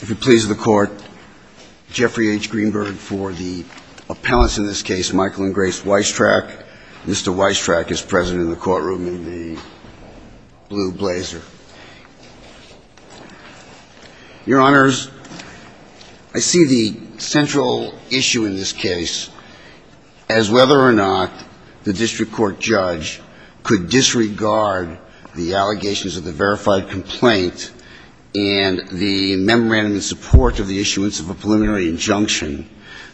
If it pleases the Court, Jeffrey H. Greenberg for the appellants in this case, Michael and Grace Weistrach. Mr. Weistrach is present in the courtroom in the blue blazer. Your Honors, I see the central issue in this case as whether or not the district court judge could disregard the allegations of the verified complaint and the memorandum in support of the issuance of a preliminary injunction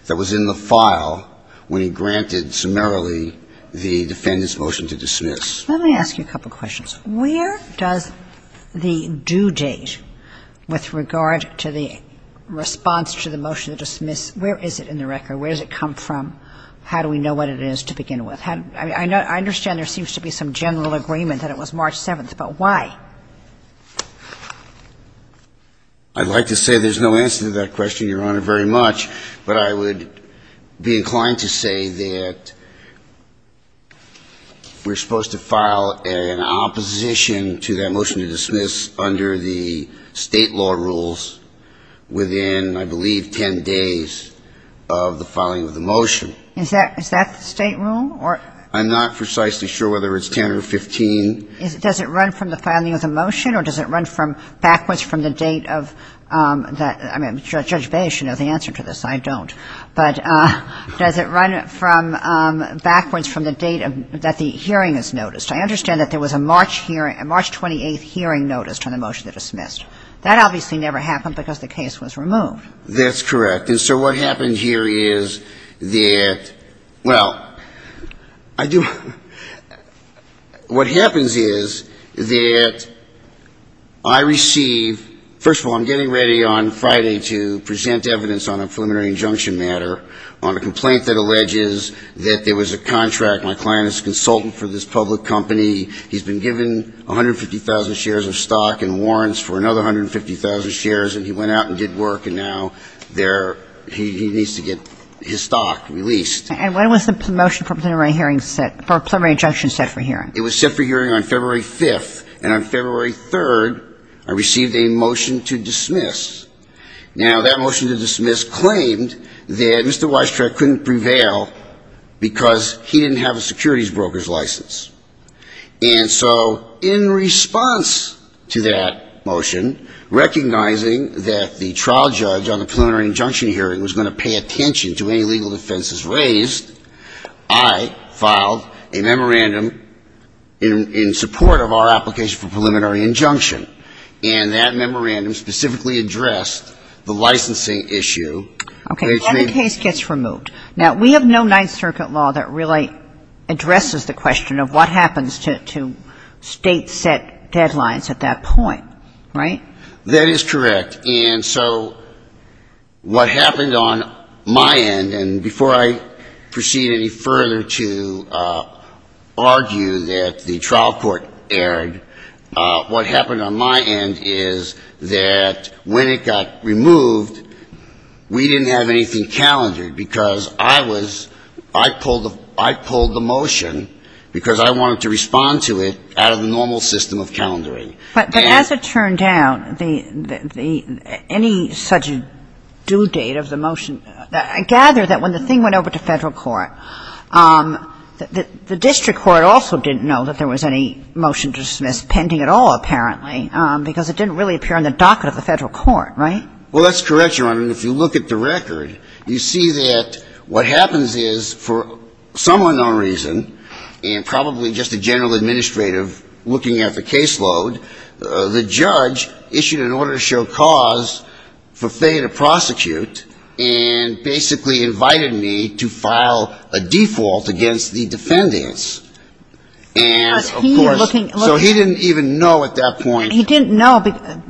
that was in the file when he granted summarily the defendant's motion to dismiss. Let me ask you a couple of questions. Where does the due date with regard to the response to the motion to dismiss, where is it in the record? Where does it come from? How do we know what it is to begin with? I understand there seems to be some general agreement that it was March 7th, but why? I'd like to say there's no answer to that question, Your Honor, very much, but I would be inclined to say that we're supposed to file an opposition to that motion to dismiss under the state law rules within, I believe, 10 days of the filing of the motion. Is that the state rule? I'm not precisely sure whether it's 10 or 15. Does it run from the filing of the motion or does it run from backwards from the date of that? I mean, Judge Baez should know the answer to this. I don't. But does it run from backwards from the date that the hearing is noticed? I understand that there was a March hearing, a March 28th hearing noticed on the motion to dismiss. That obviously never happened because the case was removed. That's correct. And so what happened here is that, well, I do – what happens is that I receive – first of all, I'm getting ready on Friday to present evidence on a preliminary injunction matter on a complaint that alleges that there was a contract. My client is a consultant for this public company. He's been given 150,000 shares of stock and warrants for another 150,000 shares and he went out and did work and now there – he needs to get his stock released. And when was the motion for a preliminary hearing set – for a preliminary injunction set for hearing? It was set for hearing on February 5th. And on February 3rd, I received a motion to dismiss. Now that motion to dismiss claimed that Mr. Weistrack couldn't prevail because he didn't have a securities broker's license. And so in response to that motion, recognizing that the trial judge on the preliminary injunction hearing was going to pay attention to any legal defenses raised, I filed a memorandum in support of our application for preliminary injunction. And that memorandum specifically addressed the licensing issue. Okay. And the case gets removed. Now, we have no Ninth Circuit law that really addresses the question of what happens to State-set deadlines at that point, right? That is correct. And so what happened on my end, and before I proceed any further to argue that the trial court erred, what happened on my end is that when it got removed, we didn't have anything calendared because I was – I pulled the motion because I wanted to respond to it out of the normal system of calendaring. But as it turned out, the – any such due date of the motion – I gather that when the thing went over to Federal court, the district court also didn't know that there was any motion to dismiss pending at all, apparently, because it didn't really appear on the docket of the Federal court, right? Well, that's correct, Your Honor. And if you look at the record, you see that what happens is for some unknown reason, and probably just a general administrative looking at the caseload, the judge issued an order to show cause for Faye to prosecute and basically invited me to file a default against the defendants. And of course, so he didn't even know at that point. He didn't know,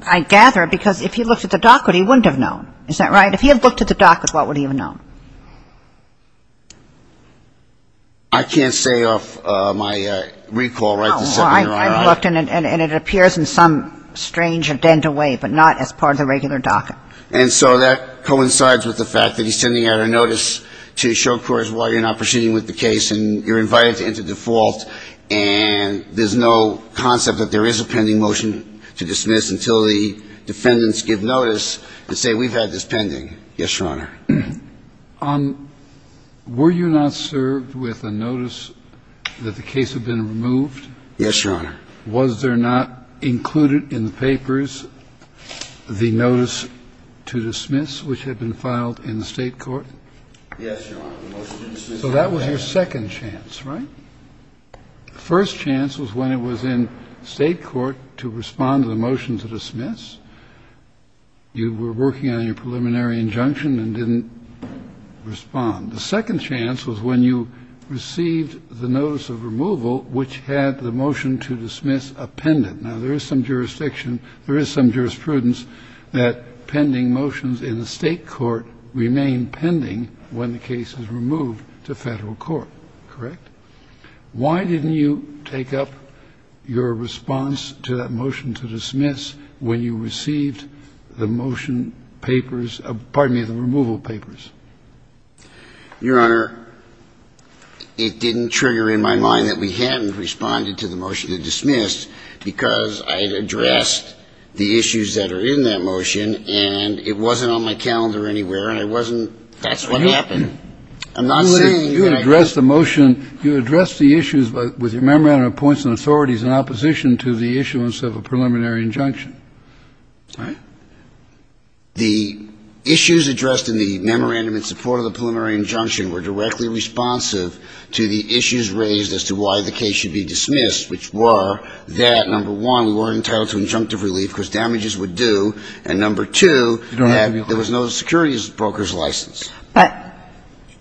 I gather, because if he looked at the docket, he wouldn't have known. Is that right? If he had looked at the docket, what would he have known? I can't say off my recall, right, the second you're asking. Oh, I looked and it appears in some strange or dental way, but not as part of the regular docket. And so that coincides with the fact that he's sending out a notice to show cause while you're not proceeding with the case and you're invited to enter into default, and there's no concept that there is a pending motion to dismiss until the defendants give notice and say we've had this pending. Yes, Your Honor. Were you not served with a notice that the case had been removed? Yes, Your Honor. Was there not included in the papers the notice to dismiss, which had been filed in the state court? Yes, Your Honor, the motion to dismiss. So that was your second chance, right? The first chance was when it was in state court to respond to the motion to dismiss. You were working on your preliminary injunction and didn't respond. The second chance was when you received the notice of removal, which had the motion to dismiss appended. Now, there is some jurisdiction, there is some jurisprudence that pending motions in the state court remain pending when the case is removed to federal court, correct? Why didn't you take up your response to that motion to dismiss when you received the motion papers, pardon me, the removal papers? Your Honor, it didn't trigger in my mind that we hadn't responded to the motion to dismiss because I addressed the issues that are in that motion and it wasn't on my calendar anywhere and I wasn't, that's what happened. I'm not saying that I didn't address the motion. You addressed the issues with your memorandum of points and authorities in opposition to the issuance of a preliminary injunction, right? The issues addressed in the memorandum in support of the preliminary injunction were directly responsive to the issues raised as to why the case should be dismissed, which were that, number one, we weren't entitled to injunctive relief because of the damages would do and, number two, there was no securities broker's license. But,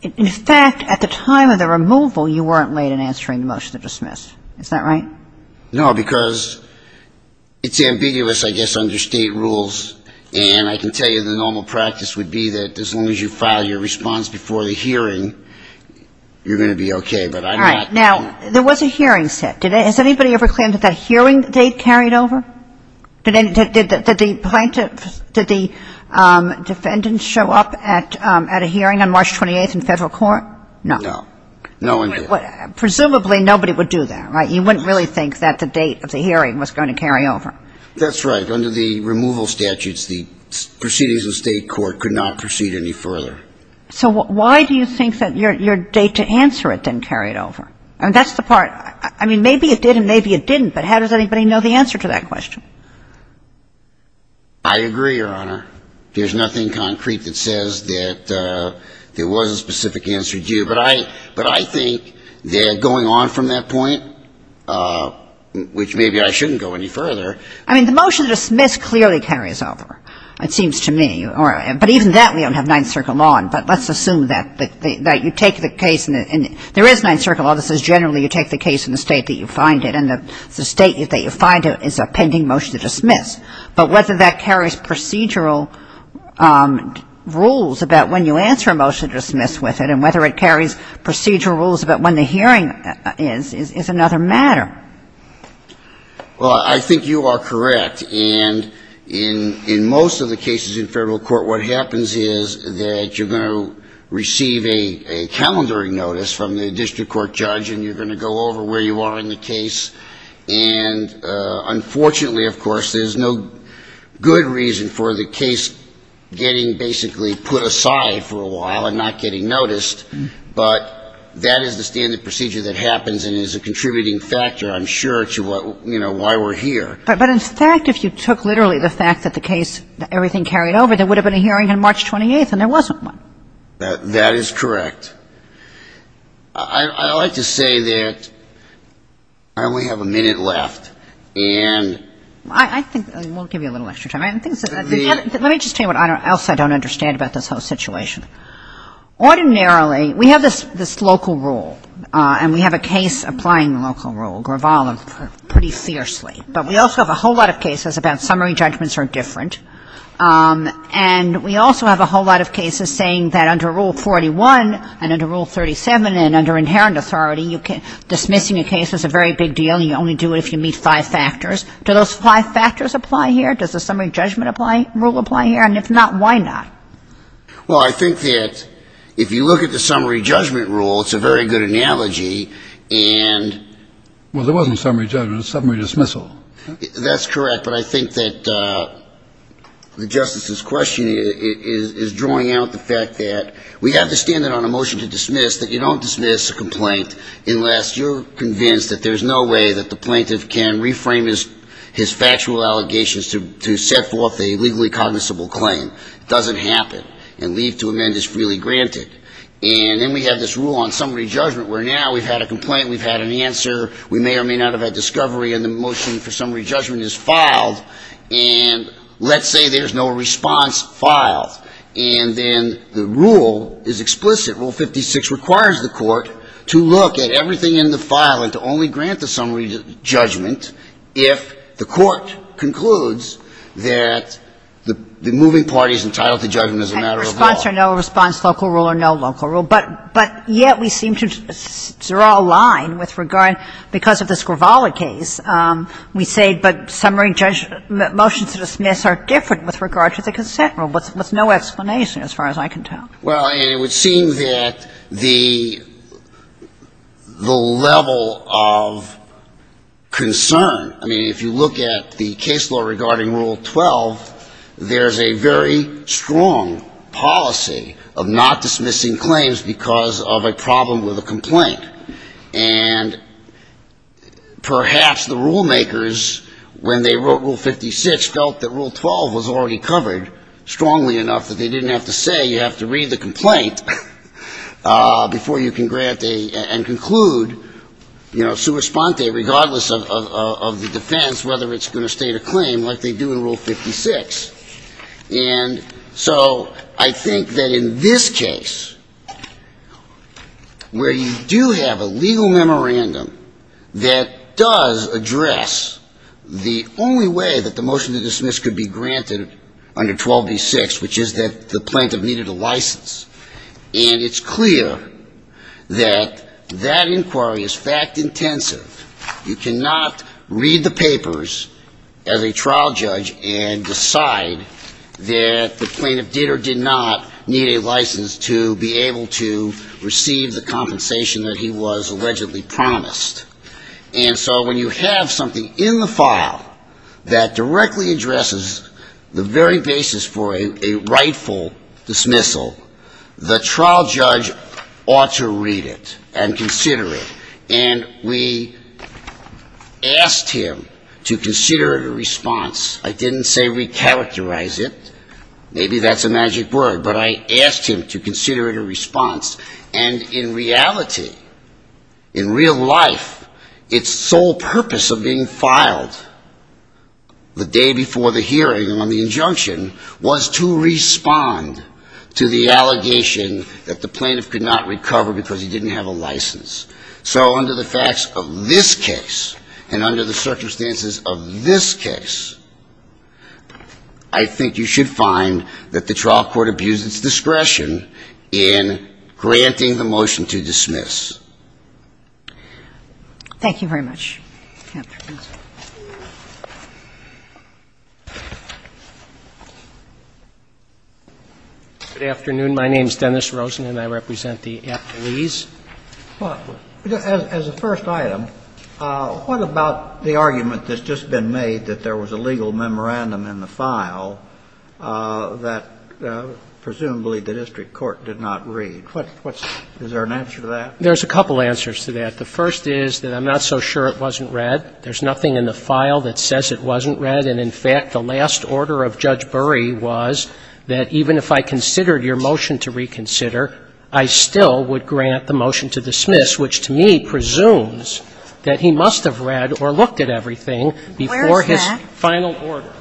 in fact, at the time of the removal, you weren't late in answering the motion to dismiss, is that right? No, because it's ambiguous, I guess, under state rules and I can tell you the normal practice would be that as long as you file your response before the hearing, you're going to be okay, but I'm not. Now, there was a hearing set. Has anybody ever claimed that that hearing they carried over? Did the plaintiffs, did the defendants show up at a hearing on March 28th in federal court? No. No one did. Presumably, nobody would do that, right? You wouldn't really think that the date of the hearing was going to carry over. That's right. Under the removal statutes, the proceedings of state court could not proceed any further. So why do you think that your date to answer it didn't carry it over? I mean, that's the part, I mean, maybe it did and maybe it didn't, but how does anybody know the answer to that question? I agree, Your Honor. There's nothing concrete that says that there was a specific answer due, but I think that going on from that point, which maybe I shouldn't go any further. I mean, the motion to dismiss clearly carries over, it seems to me. But even that we don't have Ninth Circle law, but let's assume that you take the case and there is Ninth Circle law that says generally you take the case in the state that you find it and the state that you find it is a pending motion to dismiss. But whether that carries procedural rules about when you answer a motion to dismiss with it and whether it carries procedural rules about when the hearing is, is another matter. Well, I think you are correct and in most of the cases in federal court what happens is that you're going to receive a calendaring notice from the district court judge and you're going to go over where you are in the case. And unfortunately, of course, there's no good reason for the case getting basically put aside for a while and not getting noticed, but that is the standard procedure that happens and is a contributing factor, I'm sure, to what, you know, why we're here. But in fact, if you took literally the fact that the case, that everything carried over, there would have been a hearing on March 28th and there wasn't one. That is correct. I'd like to say that we have a minute left and we'll give you a little extra time. Let me just tell you what else I don't understand about this whole situation. Ordinarily, we have this local rule and we have a case applying the local rule, Gravala, pretty fiercely. But we also have a whole lot of cases about summary judgments are different and we also have a whole lot of cases saying that under Rule 41 and under Rule 37 and under inherent authority, dismissing a case is a very big deal. You only do it if you meet five factors. Do those five factors apply here? Does the summary judgment rule apply here? And if not, why not? Well, I think that if you look at the summary judgment rule, it's a very good analogy and... Well, there wasn't summary judgment, it was summary dismissal. That's correct. But I think that the Justice's question is drawing out the fact that we have to stand on a motion to dismiss that you don't dismiss a complaint unless you're convinced that there's no way that the plaintiff can reframe his factual allegations to set forth a legally cognizable claim. It doesn't happen. And leave to amend is freely granted. And then we have this rule on summary judgment where now we've had a complaint, we've had an answer, we may or may not have had discovery and the motion for summary judgment is filed. And let's say there's no response filed. And then the rule is explicit. Rule 56 requires the court to look at everything in the file and to only grant the summary judgment if the court concludes that the moving party is entitled to judgment as a matter of law. And response or no response, local rule or no local rule. But yet we seem to draw a line with regard, because of this Gravala case, we say but summary motion to dismiss are different with regard to the consent rule. There's no explanation as far as I can tell. Well, and it would seem that the level of concern, I mean, if you look at the case law regarding Rule 12, there's a very strong policy of not dismissing claims because of a problem with a complaint. And perhaps the rule makers, when they wrote Rule 56, felt that Rule 12 was already covered strongly enough that they didn't have to say you have to read the complaint before you can grant and conclude sua sponte, regardless of the defense, whether it's going to state a claim like they do in Rule 56. And so I think that in this case, where you do have a legal memorandum that does address the only way that the motion to dismiss could be granted under 12b-6, which is that the plaintiff needed a license. And it's clear that that inquiry is fact intensive. You cannot read the papers as a trial judge and decide that the plaintiff did or did not need a license to be able to receive the compensation that he was allegedly promised. And so when you have something in the file that directly addresses the very basis for a rightful dismissal, the trial judge ought to read it and consider it. And we asked him to consider it a response. I didn't say re-characterize it. Maybe that's a magic word. But I asked him to consider it a response. And in reality, in real life, its sole purpose of being filed the day before the hearing on the injunction was to respond to the allegation that the plaintiff could not recover because he didn't have a license. So under the facts of this case and under the circumstances of this case, I think you should find that the trial court abused its discretion in granting the motion to dismiss. Thank you very much. Good afternoon. My name is Dennis Rosen, and I represent the appellees. As a first item, what about the argument that's just been made that there was a legal memorandum in the file that presumably the district court did not read? Is there an answer to that? There's a couple answers to that. The first is that I'm not so sure it wasn't read. There's nothing in the file that says it wasn't read. And in fact, the last order of Judge Burry was that even if I considered your motion to reconsider, I still would grant the motion to dismiss, which to me presumes that he must have read or looked at everything before his final order.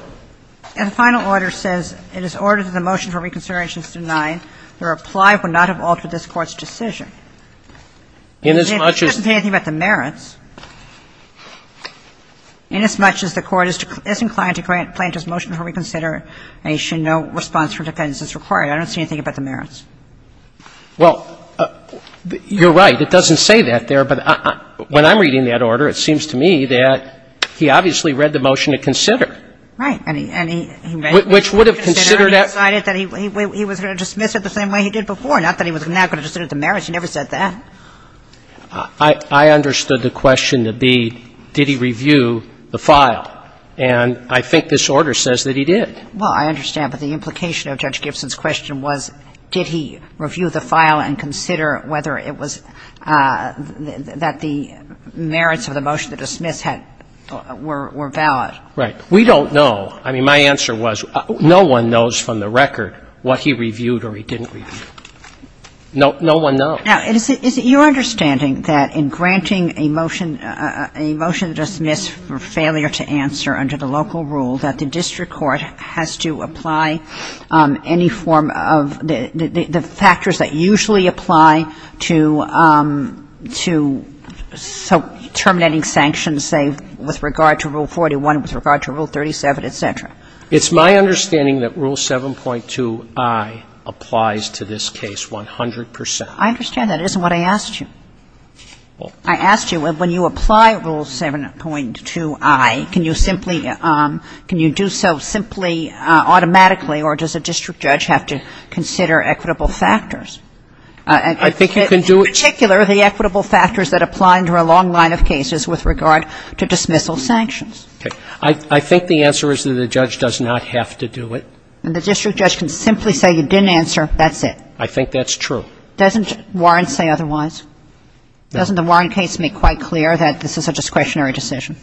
And the final order says it is ordered that the motion for reconsideration is denied. The reply would not have altered this Court's decision. Inasmuch as the court is inclined to grant plaintiff's motion for reconsideration, no response from defendants is required. I don't see anything about the merits. Well, you're right. It doesn't say that there. But when I'm reading that order, it seems to me that he obviously read the motion to consider. Right. And he read the motion to consider, and he decided that he was going to dismiss it the same way he did before, not that he was not going to consider the merits. He never said that. I understood the question to be, did he review the file? And I think this order says that he did. Well, I understand. But the implication of Judge Gibson's question was, did he review the file and consider whether it was that the merits of the motion to dismiss had – were valid. Right. We don't know. I mean, my answer was, no one knows from the record what he reviewed or he didn't review. No one knows. Now, is it your understanding that in granting a motion – a motion to dismiss for failure to answer under the local rule that the district court has to apply any form of – the factors that usually apply to terminating sanctions, say, with regard to Rule 41, with regard to Rule 37, et cetera? It's my understanding that Rule 7.2i applies to this case 100 percent. I understand that. It isn't what I asked you. I asked you, when you apply Rule 7.2i, can you simply – can you do so simply automatically, or does a district judge have to consider equitable factors? I think you can do it – In particular, the equitable factors that apply under a long line of cases with regard to dismissal sanctions. Okay. I think the answer is that a judge does not have to do it. And the district judge can simply say, you didn't answer, that's it? I think that's true. Doesn't Warren say otherwise? Doesn't the Warren case make quite clear that this is a discretionary decision?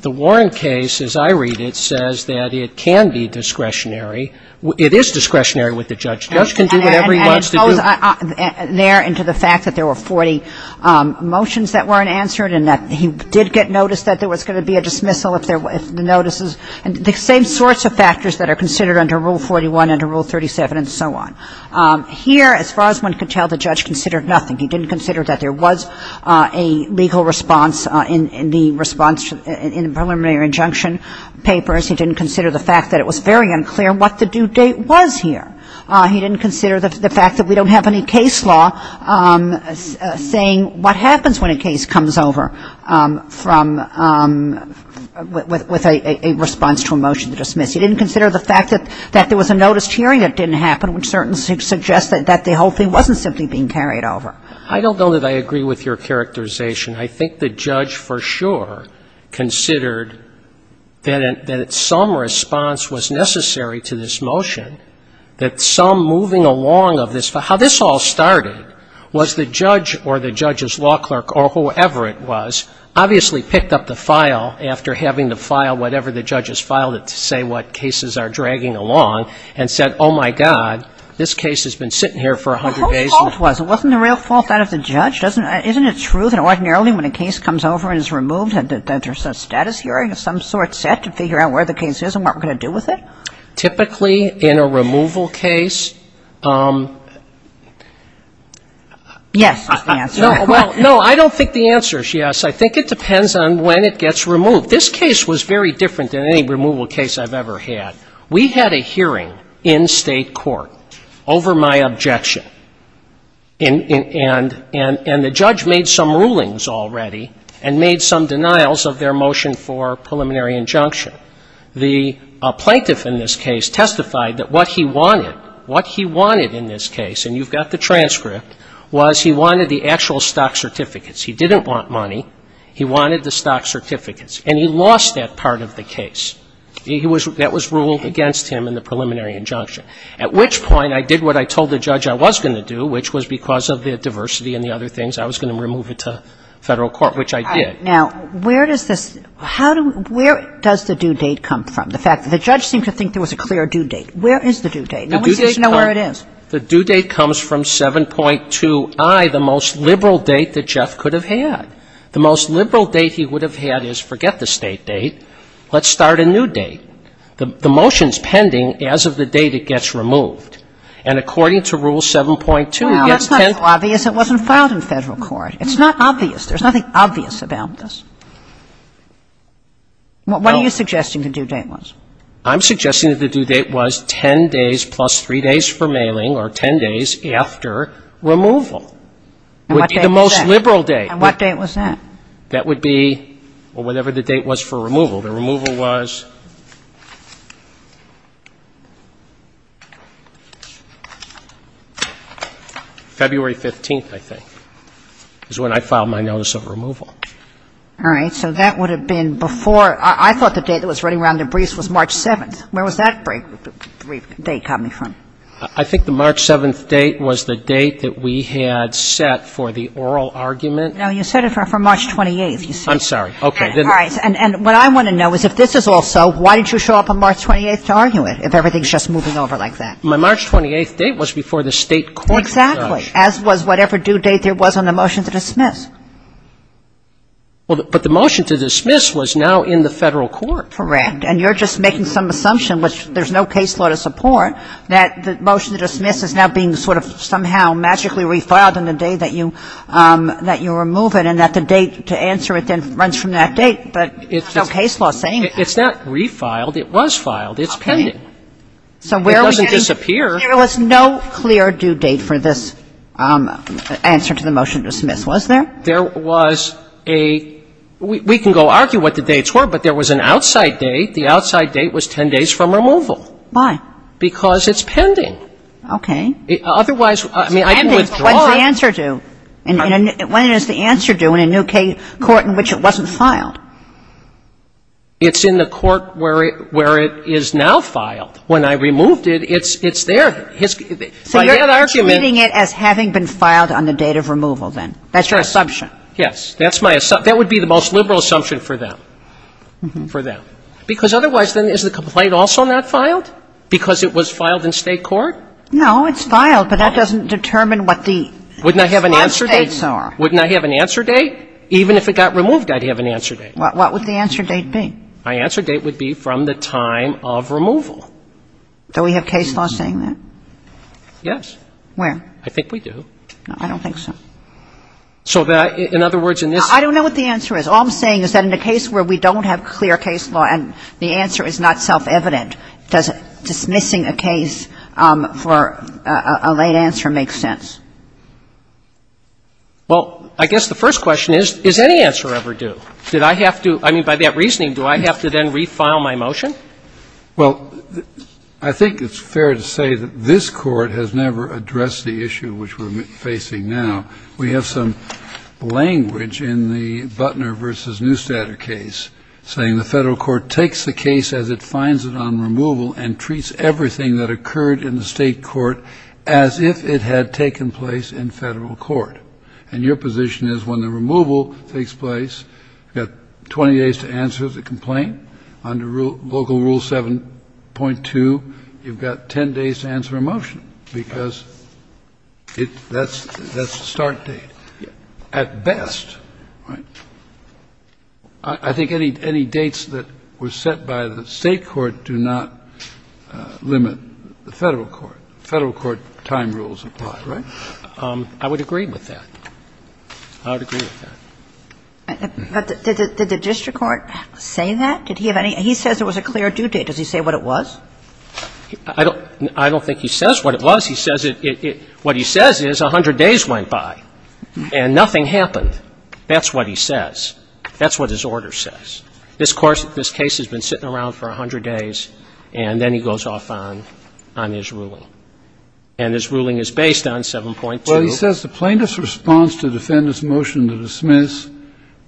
The Warren case, as I read it, says that it can be discretionary. It is discretionary with the judge. The judge can do whatever he wants to do. And it goes there into the fact that there were 40 motions that weren't answered and that he did get notice that there was going to be a dismissal if the notices – the same sorts of factors that are considered under Rule 41, under Rule 37, and so on. Here, as far as one can tell, the judge considered nothing. He didn't consider that there was a legal response in the response in the preliminary injunction papers. He didn't consider the fact that it was very unclear what the due date was here. He didn't consider the fact that we don't have any case law saying what happens when a case comes over from – with a response to a motion to dismiss. He didn't consider the fact that there was a noticed hearing that didn't happen which certainly suggested that the whole thing wasn't simply being carried over. I don't know that I agree with your characterization. I think the judge for sure considered that some response was necessary to this motion, that some moving along of this – how this all started was the judge or the judge's law clerk or whoever it was obviously picked up the file after having to file whatever the judge has filed it to say what cases are dragging along and said, oh, my God, this case has been sitting here for a hundred days. And the whole fault was it wasn't a real fault out of the judge. Doesn't – isn't it true that ordinarily when a case comes over and is removed, that there's a status hearing of some sort set to figure out where the case is and what we're going to do with it? Typically in a removal case – Yes, is the answer. No, well, no, I don't think the answer is yes. I think it depends on when it gets removed. This case was very different than any removal case I've ever had. We had a hearing in state court over my objection, and the judge made some rulings already and made some denials of their motion for preliminary injunction. The plaintiff in this case testified that what he wanted, what he wanted in this case – and you've got the transcript – was he wanted the actual stock certificates. He didn't want money. He wanted the stock certificates, and he lost that part of the case. That was ruled against him in the preliminary injunction. At which point I did what I told the judge I was going to do, which was because of the diversity and the other things, I was going to remove it to federal court, which I did. All right. Now, where does this – how do – where does the due date come from? The fact that the judge seemed to think there was a clear due date. Where is the due date? No one seems to know where it is. The due date comes from 7.2i, the most liberal date that Jeff could have had. The most liberal date he would have had is, forget the State date, let's start a new date. The motion is pending as of the date it gets removed. And according to Rule 7.2, it gets 10 days. Well, that's not so obvious it wasn't filed in federal court. It's not obvious. There's nothing obvious about this. What are you suggesting the due date was? I'm suggesting that the due date was 10 days plus 3 days for mailing, or 10 days after removal. And what date was that? Would be the most liberal date. And what date was that? That would be – well, whatever the date was for removal. The removal was February 15th, I think, is when I filed my notice of removal. All right. So that would have been before – I thought the date that was running around in briefs was March 7th. Where was that brief date coming from? I think the March 7th date was the date that we had set for the oral argument. No, you set it for March 28th. I'm sorry. Okay. All right. And what I want to know is, if this is all so, why did you show up on March 28th to argue it, if everything is just moving over like that? My March 28th date was before the State court was judged. Exactly. As was whatever due date there was on the motion to dismiss. But the motion to dismiss was now in the federal court. Correct. And you're just making some assumption, which there's no case law to support, that the motion to dismiss is now being sort of somehow magically refiled on the day that you – that you remove it, and that the date to answer it then runs from that date. But there's no case law saying that. It's not refiled. It was filed. It's pending. Okay. So where are we getting – It doesn't disappear. There was no clear due date for this answer to the motion to dismiss, was there? There was a – we can go argue what the dates were, but there was an outside date. The outside date was 10 days from removal. Why? Because it's pending. Okay. Otherwise, I mean, I can withdraw it. It's pending, but what does the answer do? When does the answer do in a new court in which it wasn't filed? It's in the court where it is now filed. When I removed it, it's there. So you're treating it as having been filed on the date of removal, then? That's your assumption. Yes. That's my – that would be the most liberal assumption for them, for them. Because otherwise, then, is the complaint also not filed because it was filed in state court? No. It's filed, but that doesn't determine what the – Wouldn't I have an answer date? What states are? Wouldn't I have an answer date? Even if it got removed, I'd have an answer date. What would the answer date be? My answer date would be from the time of removal. Do we have case law saying that? Yes. Where? I think we do. I don't think so. So that – in other words, in this – I don't know what the answer is. All I'm saying is that in a case where we don't have clear case law and the answer is not self-evident, does dismissing a case for a late answer make sense? Well, I guess the first question is, is any answer ever due? Did I have to – I mean, by that reasoning, do I have to then refile my motion? Well, I think it's fair to say that this Court has never addressed the issue which we're facing now. We have some language in the Butner v. Neustadt case saying the federal court takes the case as it finds it on removal and treats everything that occurred in the state court as if it had taken place in federal court. And your position is when the removal takes place, you've got 20 days to answer the complaint. Under Local Rule 7.2, you've got 10 days to answer a motion because it – that's the start date. At best, I think any dates that were set by the state court do not limit the federal court. Federal court time rules apply, right? I would agree with that. I would agree with that. But did the district court say that? Did he have any – he says there was a clear due date. Does he say what it was? I don't think he says what it was. He says it – what he says is 100 days went by and nothing happened. That's what he says. That's what his order says. This case has been sitting around for 100 days, and then he goes off on his ruling. And his ruling is based on 7.2. Well, he says the plaintiff's response to defendant's motion to dismiss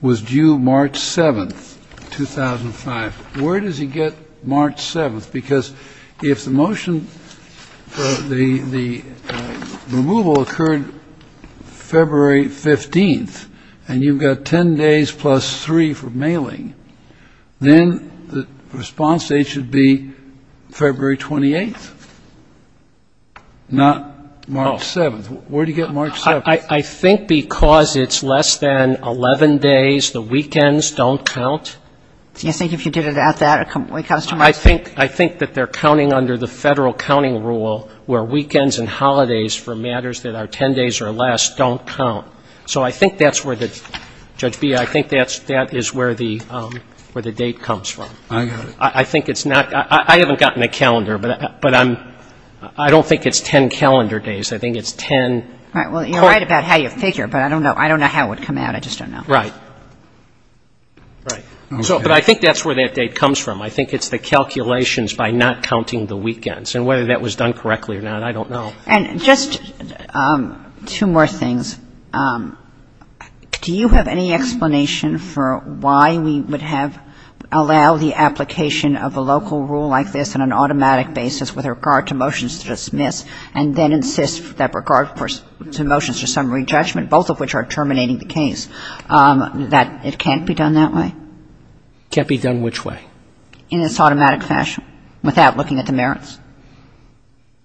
was due March 7th, 2005. Where does he get March 7th? Because if the motion for the removal occurred February 15th, and you've got 10 days plus 3 for mailing, then the response date should be February 28th, not March 7th. Where do you get March 7th? I think because it's less than 11 days, the weekends don't count. Do you think if you did it at that, it comes to March 7th? I think that they're counting under the Federal counting rule where weekends and holidays for matters that are 10 days or less don't count. So I think that's where the – Judge Bea, I think that is where the date comes from. I got it. I think it's not – I haven't gotten a calendar, but I'm – I don't think it's 10 calendar days. I think it's 10. Well, you're right about how you figure, but I don't know. I don't know how it would come out. I just don't know. Right. Right. But I think that's where that date comes from. I think it's the calculations by not counting the weekends. And whether that was done correctly or not, I don't know. And just two more things. Do you have any explanation for why we would have – allow the application of a local rule like this on an automatic basis with regard to motions to dismiss and then insist that regard to motions to summary judgment, both of which are terminating the case, that it can't be done that way? It can't be done which way? In its automatic fashion without looking at the merits.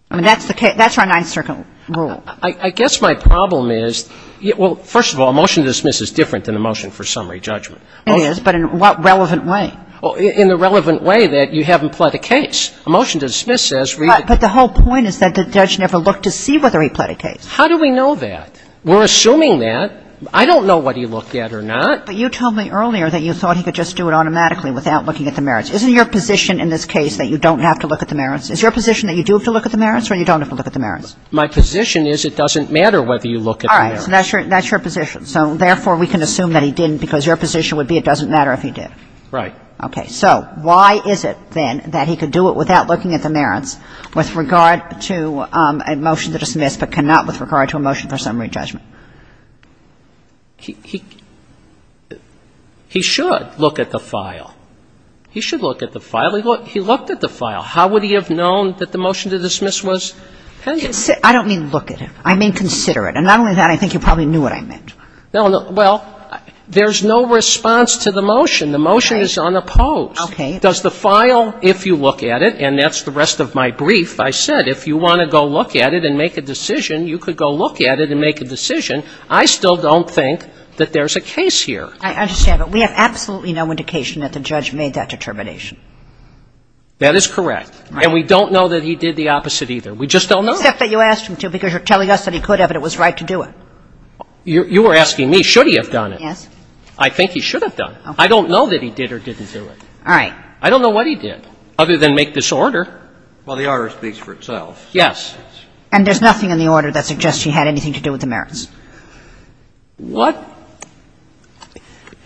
I mean, that's the case – that's our Ninth Circuit rule. I guess my problem is – well, first of all, a motion to dismiss is different than a motion for summary judgment. It is, but in what relevant way? In the relevant way that you haven't pled a case. A motion to dismiss says read it. But the whole point is that the judge never looked to see whether he pled a case. How do we know that? We're assuming that. I don't know what he looked at or not. But you told me earlier that you thought he could just do it automatically without looking at the merits. Isn't your position in this case that you don't have to look at the merits? Is your position that you do have to look at the merits or you don't have to look at the merits? My position is it doesn't matter whether you look at the merits. All right. So that's your position. So therefore, we can assume that he didn't because your position would be it doesn't matter if he did. Right. Okay. So why is it, then, that he could do it without looking at the merits with regard to a motion to dismiss, but cannot with regard to a motion for summary judgment? He should look at the file. He should look at the file. He looked at the file. How would he have known that the motion to dismiss was pending? I don't mean look at it. I mean consider it. And not only that, I think you probably knew what I meant. Well, there's no response to the motion. The motion is unopposed. Okay. Does the file, if you look at it, and that's the rest of my brief, I said if you want to go look at it and make a decision, you could go look at it and make a decision. I still don't think that there's a case here. I understand. But we have absolutely no indication that the judge made that determination. That is correct. Right. And we don't know that he did the opposite either. We just don't know. Except that you asked him to because you're telling us that he could have and it was You were asking me, should he have done it? Yes. I think he should have done it. Okay. I don't know that he did or didn't do it. All right. I don't know what he did other than make this order. Well, the order speaks for itself. Yes. And there's nothing in the order that suggests he had anything to do with the merits? What?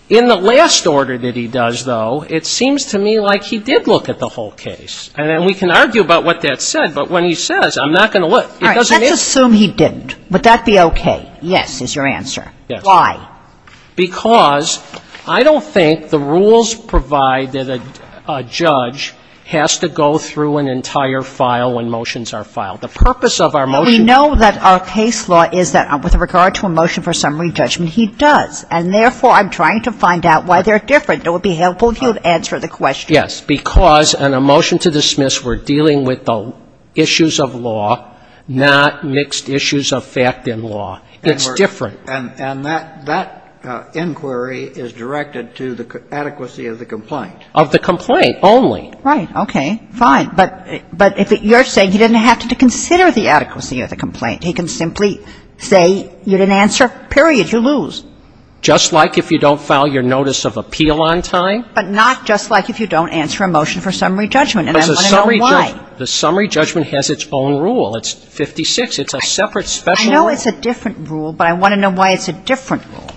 In the last order that he does, though, it seems to me like he did look at the whole case. And we can argue about what that said, but when he says, I'm not going to look, it doesn't mean All right. Let's assume he didn't. Would that be okay? Yes is your answer. Yes. Why? Because I don't think the rules provide that a judge has to go through an entire file when motions are filed. The purpose of our motion We know that our case law is that with regard to a motion for summary judgment, he does. And therefore, I'm trying to find out why they're different. It would be helpful if you would answer the question. Yes. Because in a motion to dismiss, we're dealing with the issues of law, not mixed issues of fact and law. It's different. And that inquiry is directed to the adequacy of the complaint. Of the complaint only. Right. Okay. Fine. But you're saying he didn't have to consider the adequacy of the complaint. He can simply say you didn't answer, period. You lose. Just like if you don't file your notice of appeal on time. But not just like if you don't answer a motion for summary judgment. And I want to know why. The summary judgment has its own rule. It's 56. It's a separate special rule. I know it's a different rule, but I want to know why it's a different rule.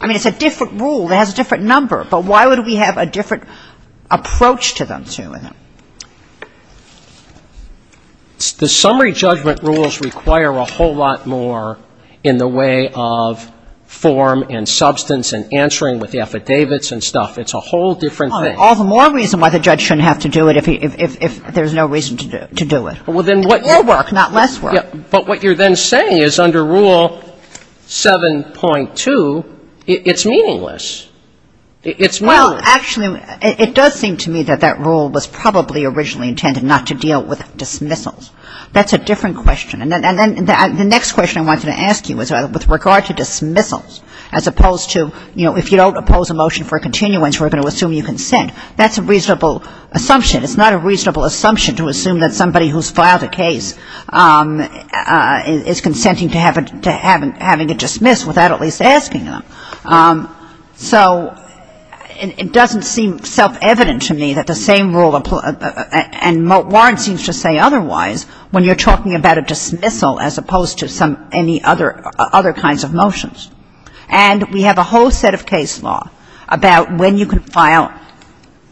I mean, it's a different rule. It has a different number. But why would we have a different approach to them? The summary judgment rules require a whole lot more in the way of form and substance and answering with the affidavits and stuff. It's a whole different thing. All the more reason why the judge shouldn't have to do it if there's no reason to do it. More work, not less work. But what you're then saying is under Rule 7.2, it's meaningless. It's meaningless. Well, actually, it does seem to me that that rule was probably originally intended not to deal with dismissals. That's a different question. And then the next question I wanted to ask you was with regard to dismissals as opposed to, you know, if you don't oppose a motion for continuance, we're going to assume you consent. That's a reasonable assumption. It's not a reasonable assumption to assume that somebody who's filed a case is consenting to having a dismissal without at least asking them. So it doesn't seem self-evident to me that the same rule applies. And Warren seems to say otherwise when you're talking about a dismissal as opposed to any other kinds of motions. And we have a whole set of case law about when you can file,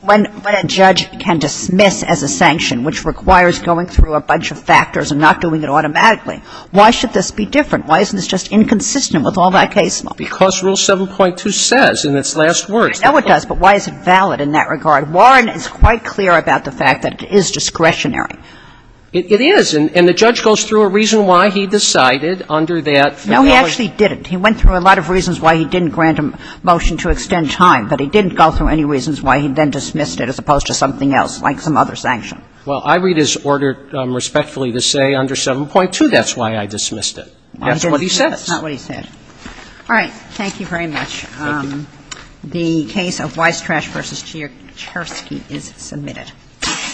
when a judge can dismiss as a sanction, which requires going through a bunch of factors and not doing it automatically. Why should this be different? Why isn't this just inconsistent with all that case law? Because Rule 7.2 says in its last words. I know it does, but why is it valid in that regard? Warren is quite clear about the fact that it is discretionary. It is. And the judge goes through a reason why he decided under that. No, he actually didn't. He went through a lot of reasons why he didn't grant a motion to extend time, but he didn't go through any reasons why he then dismissed it as opposed to something else, like some other sanction. Well, I read his order respectfully to say under 7.2 that's why I dismissed it. That's what he says. That's not what he said. All right. Thank you very much. Thank you. The case of Weistrash v. Chersky is submitted.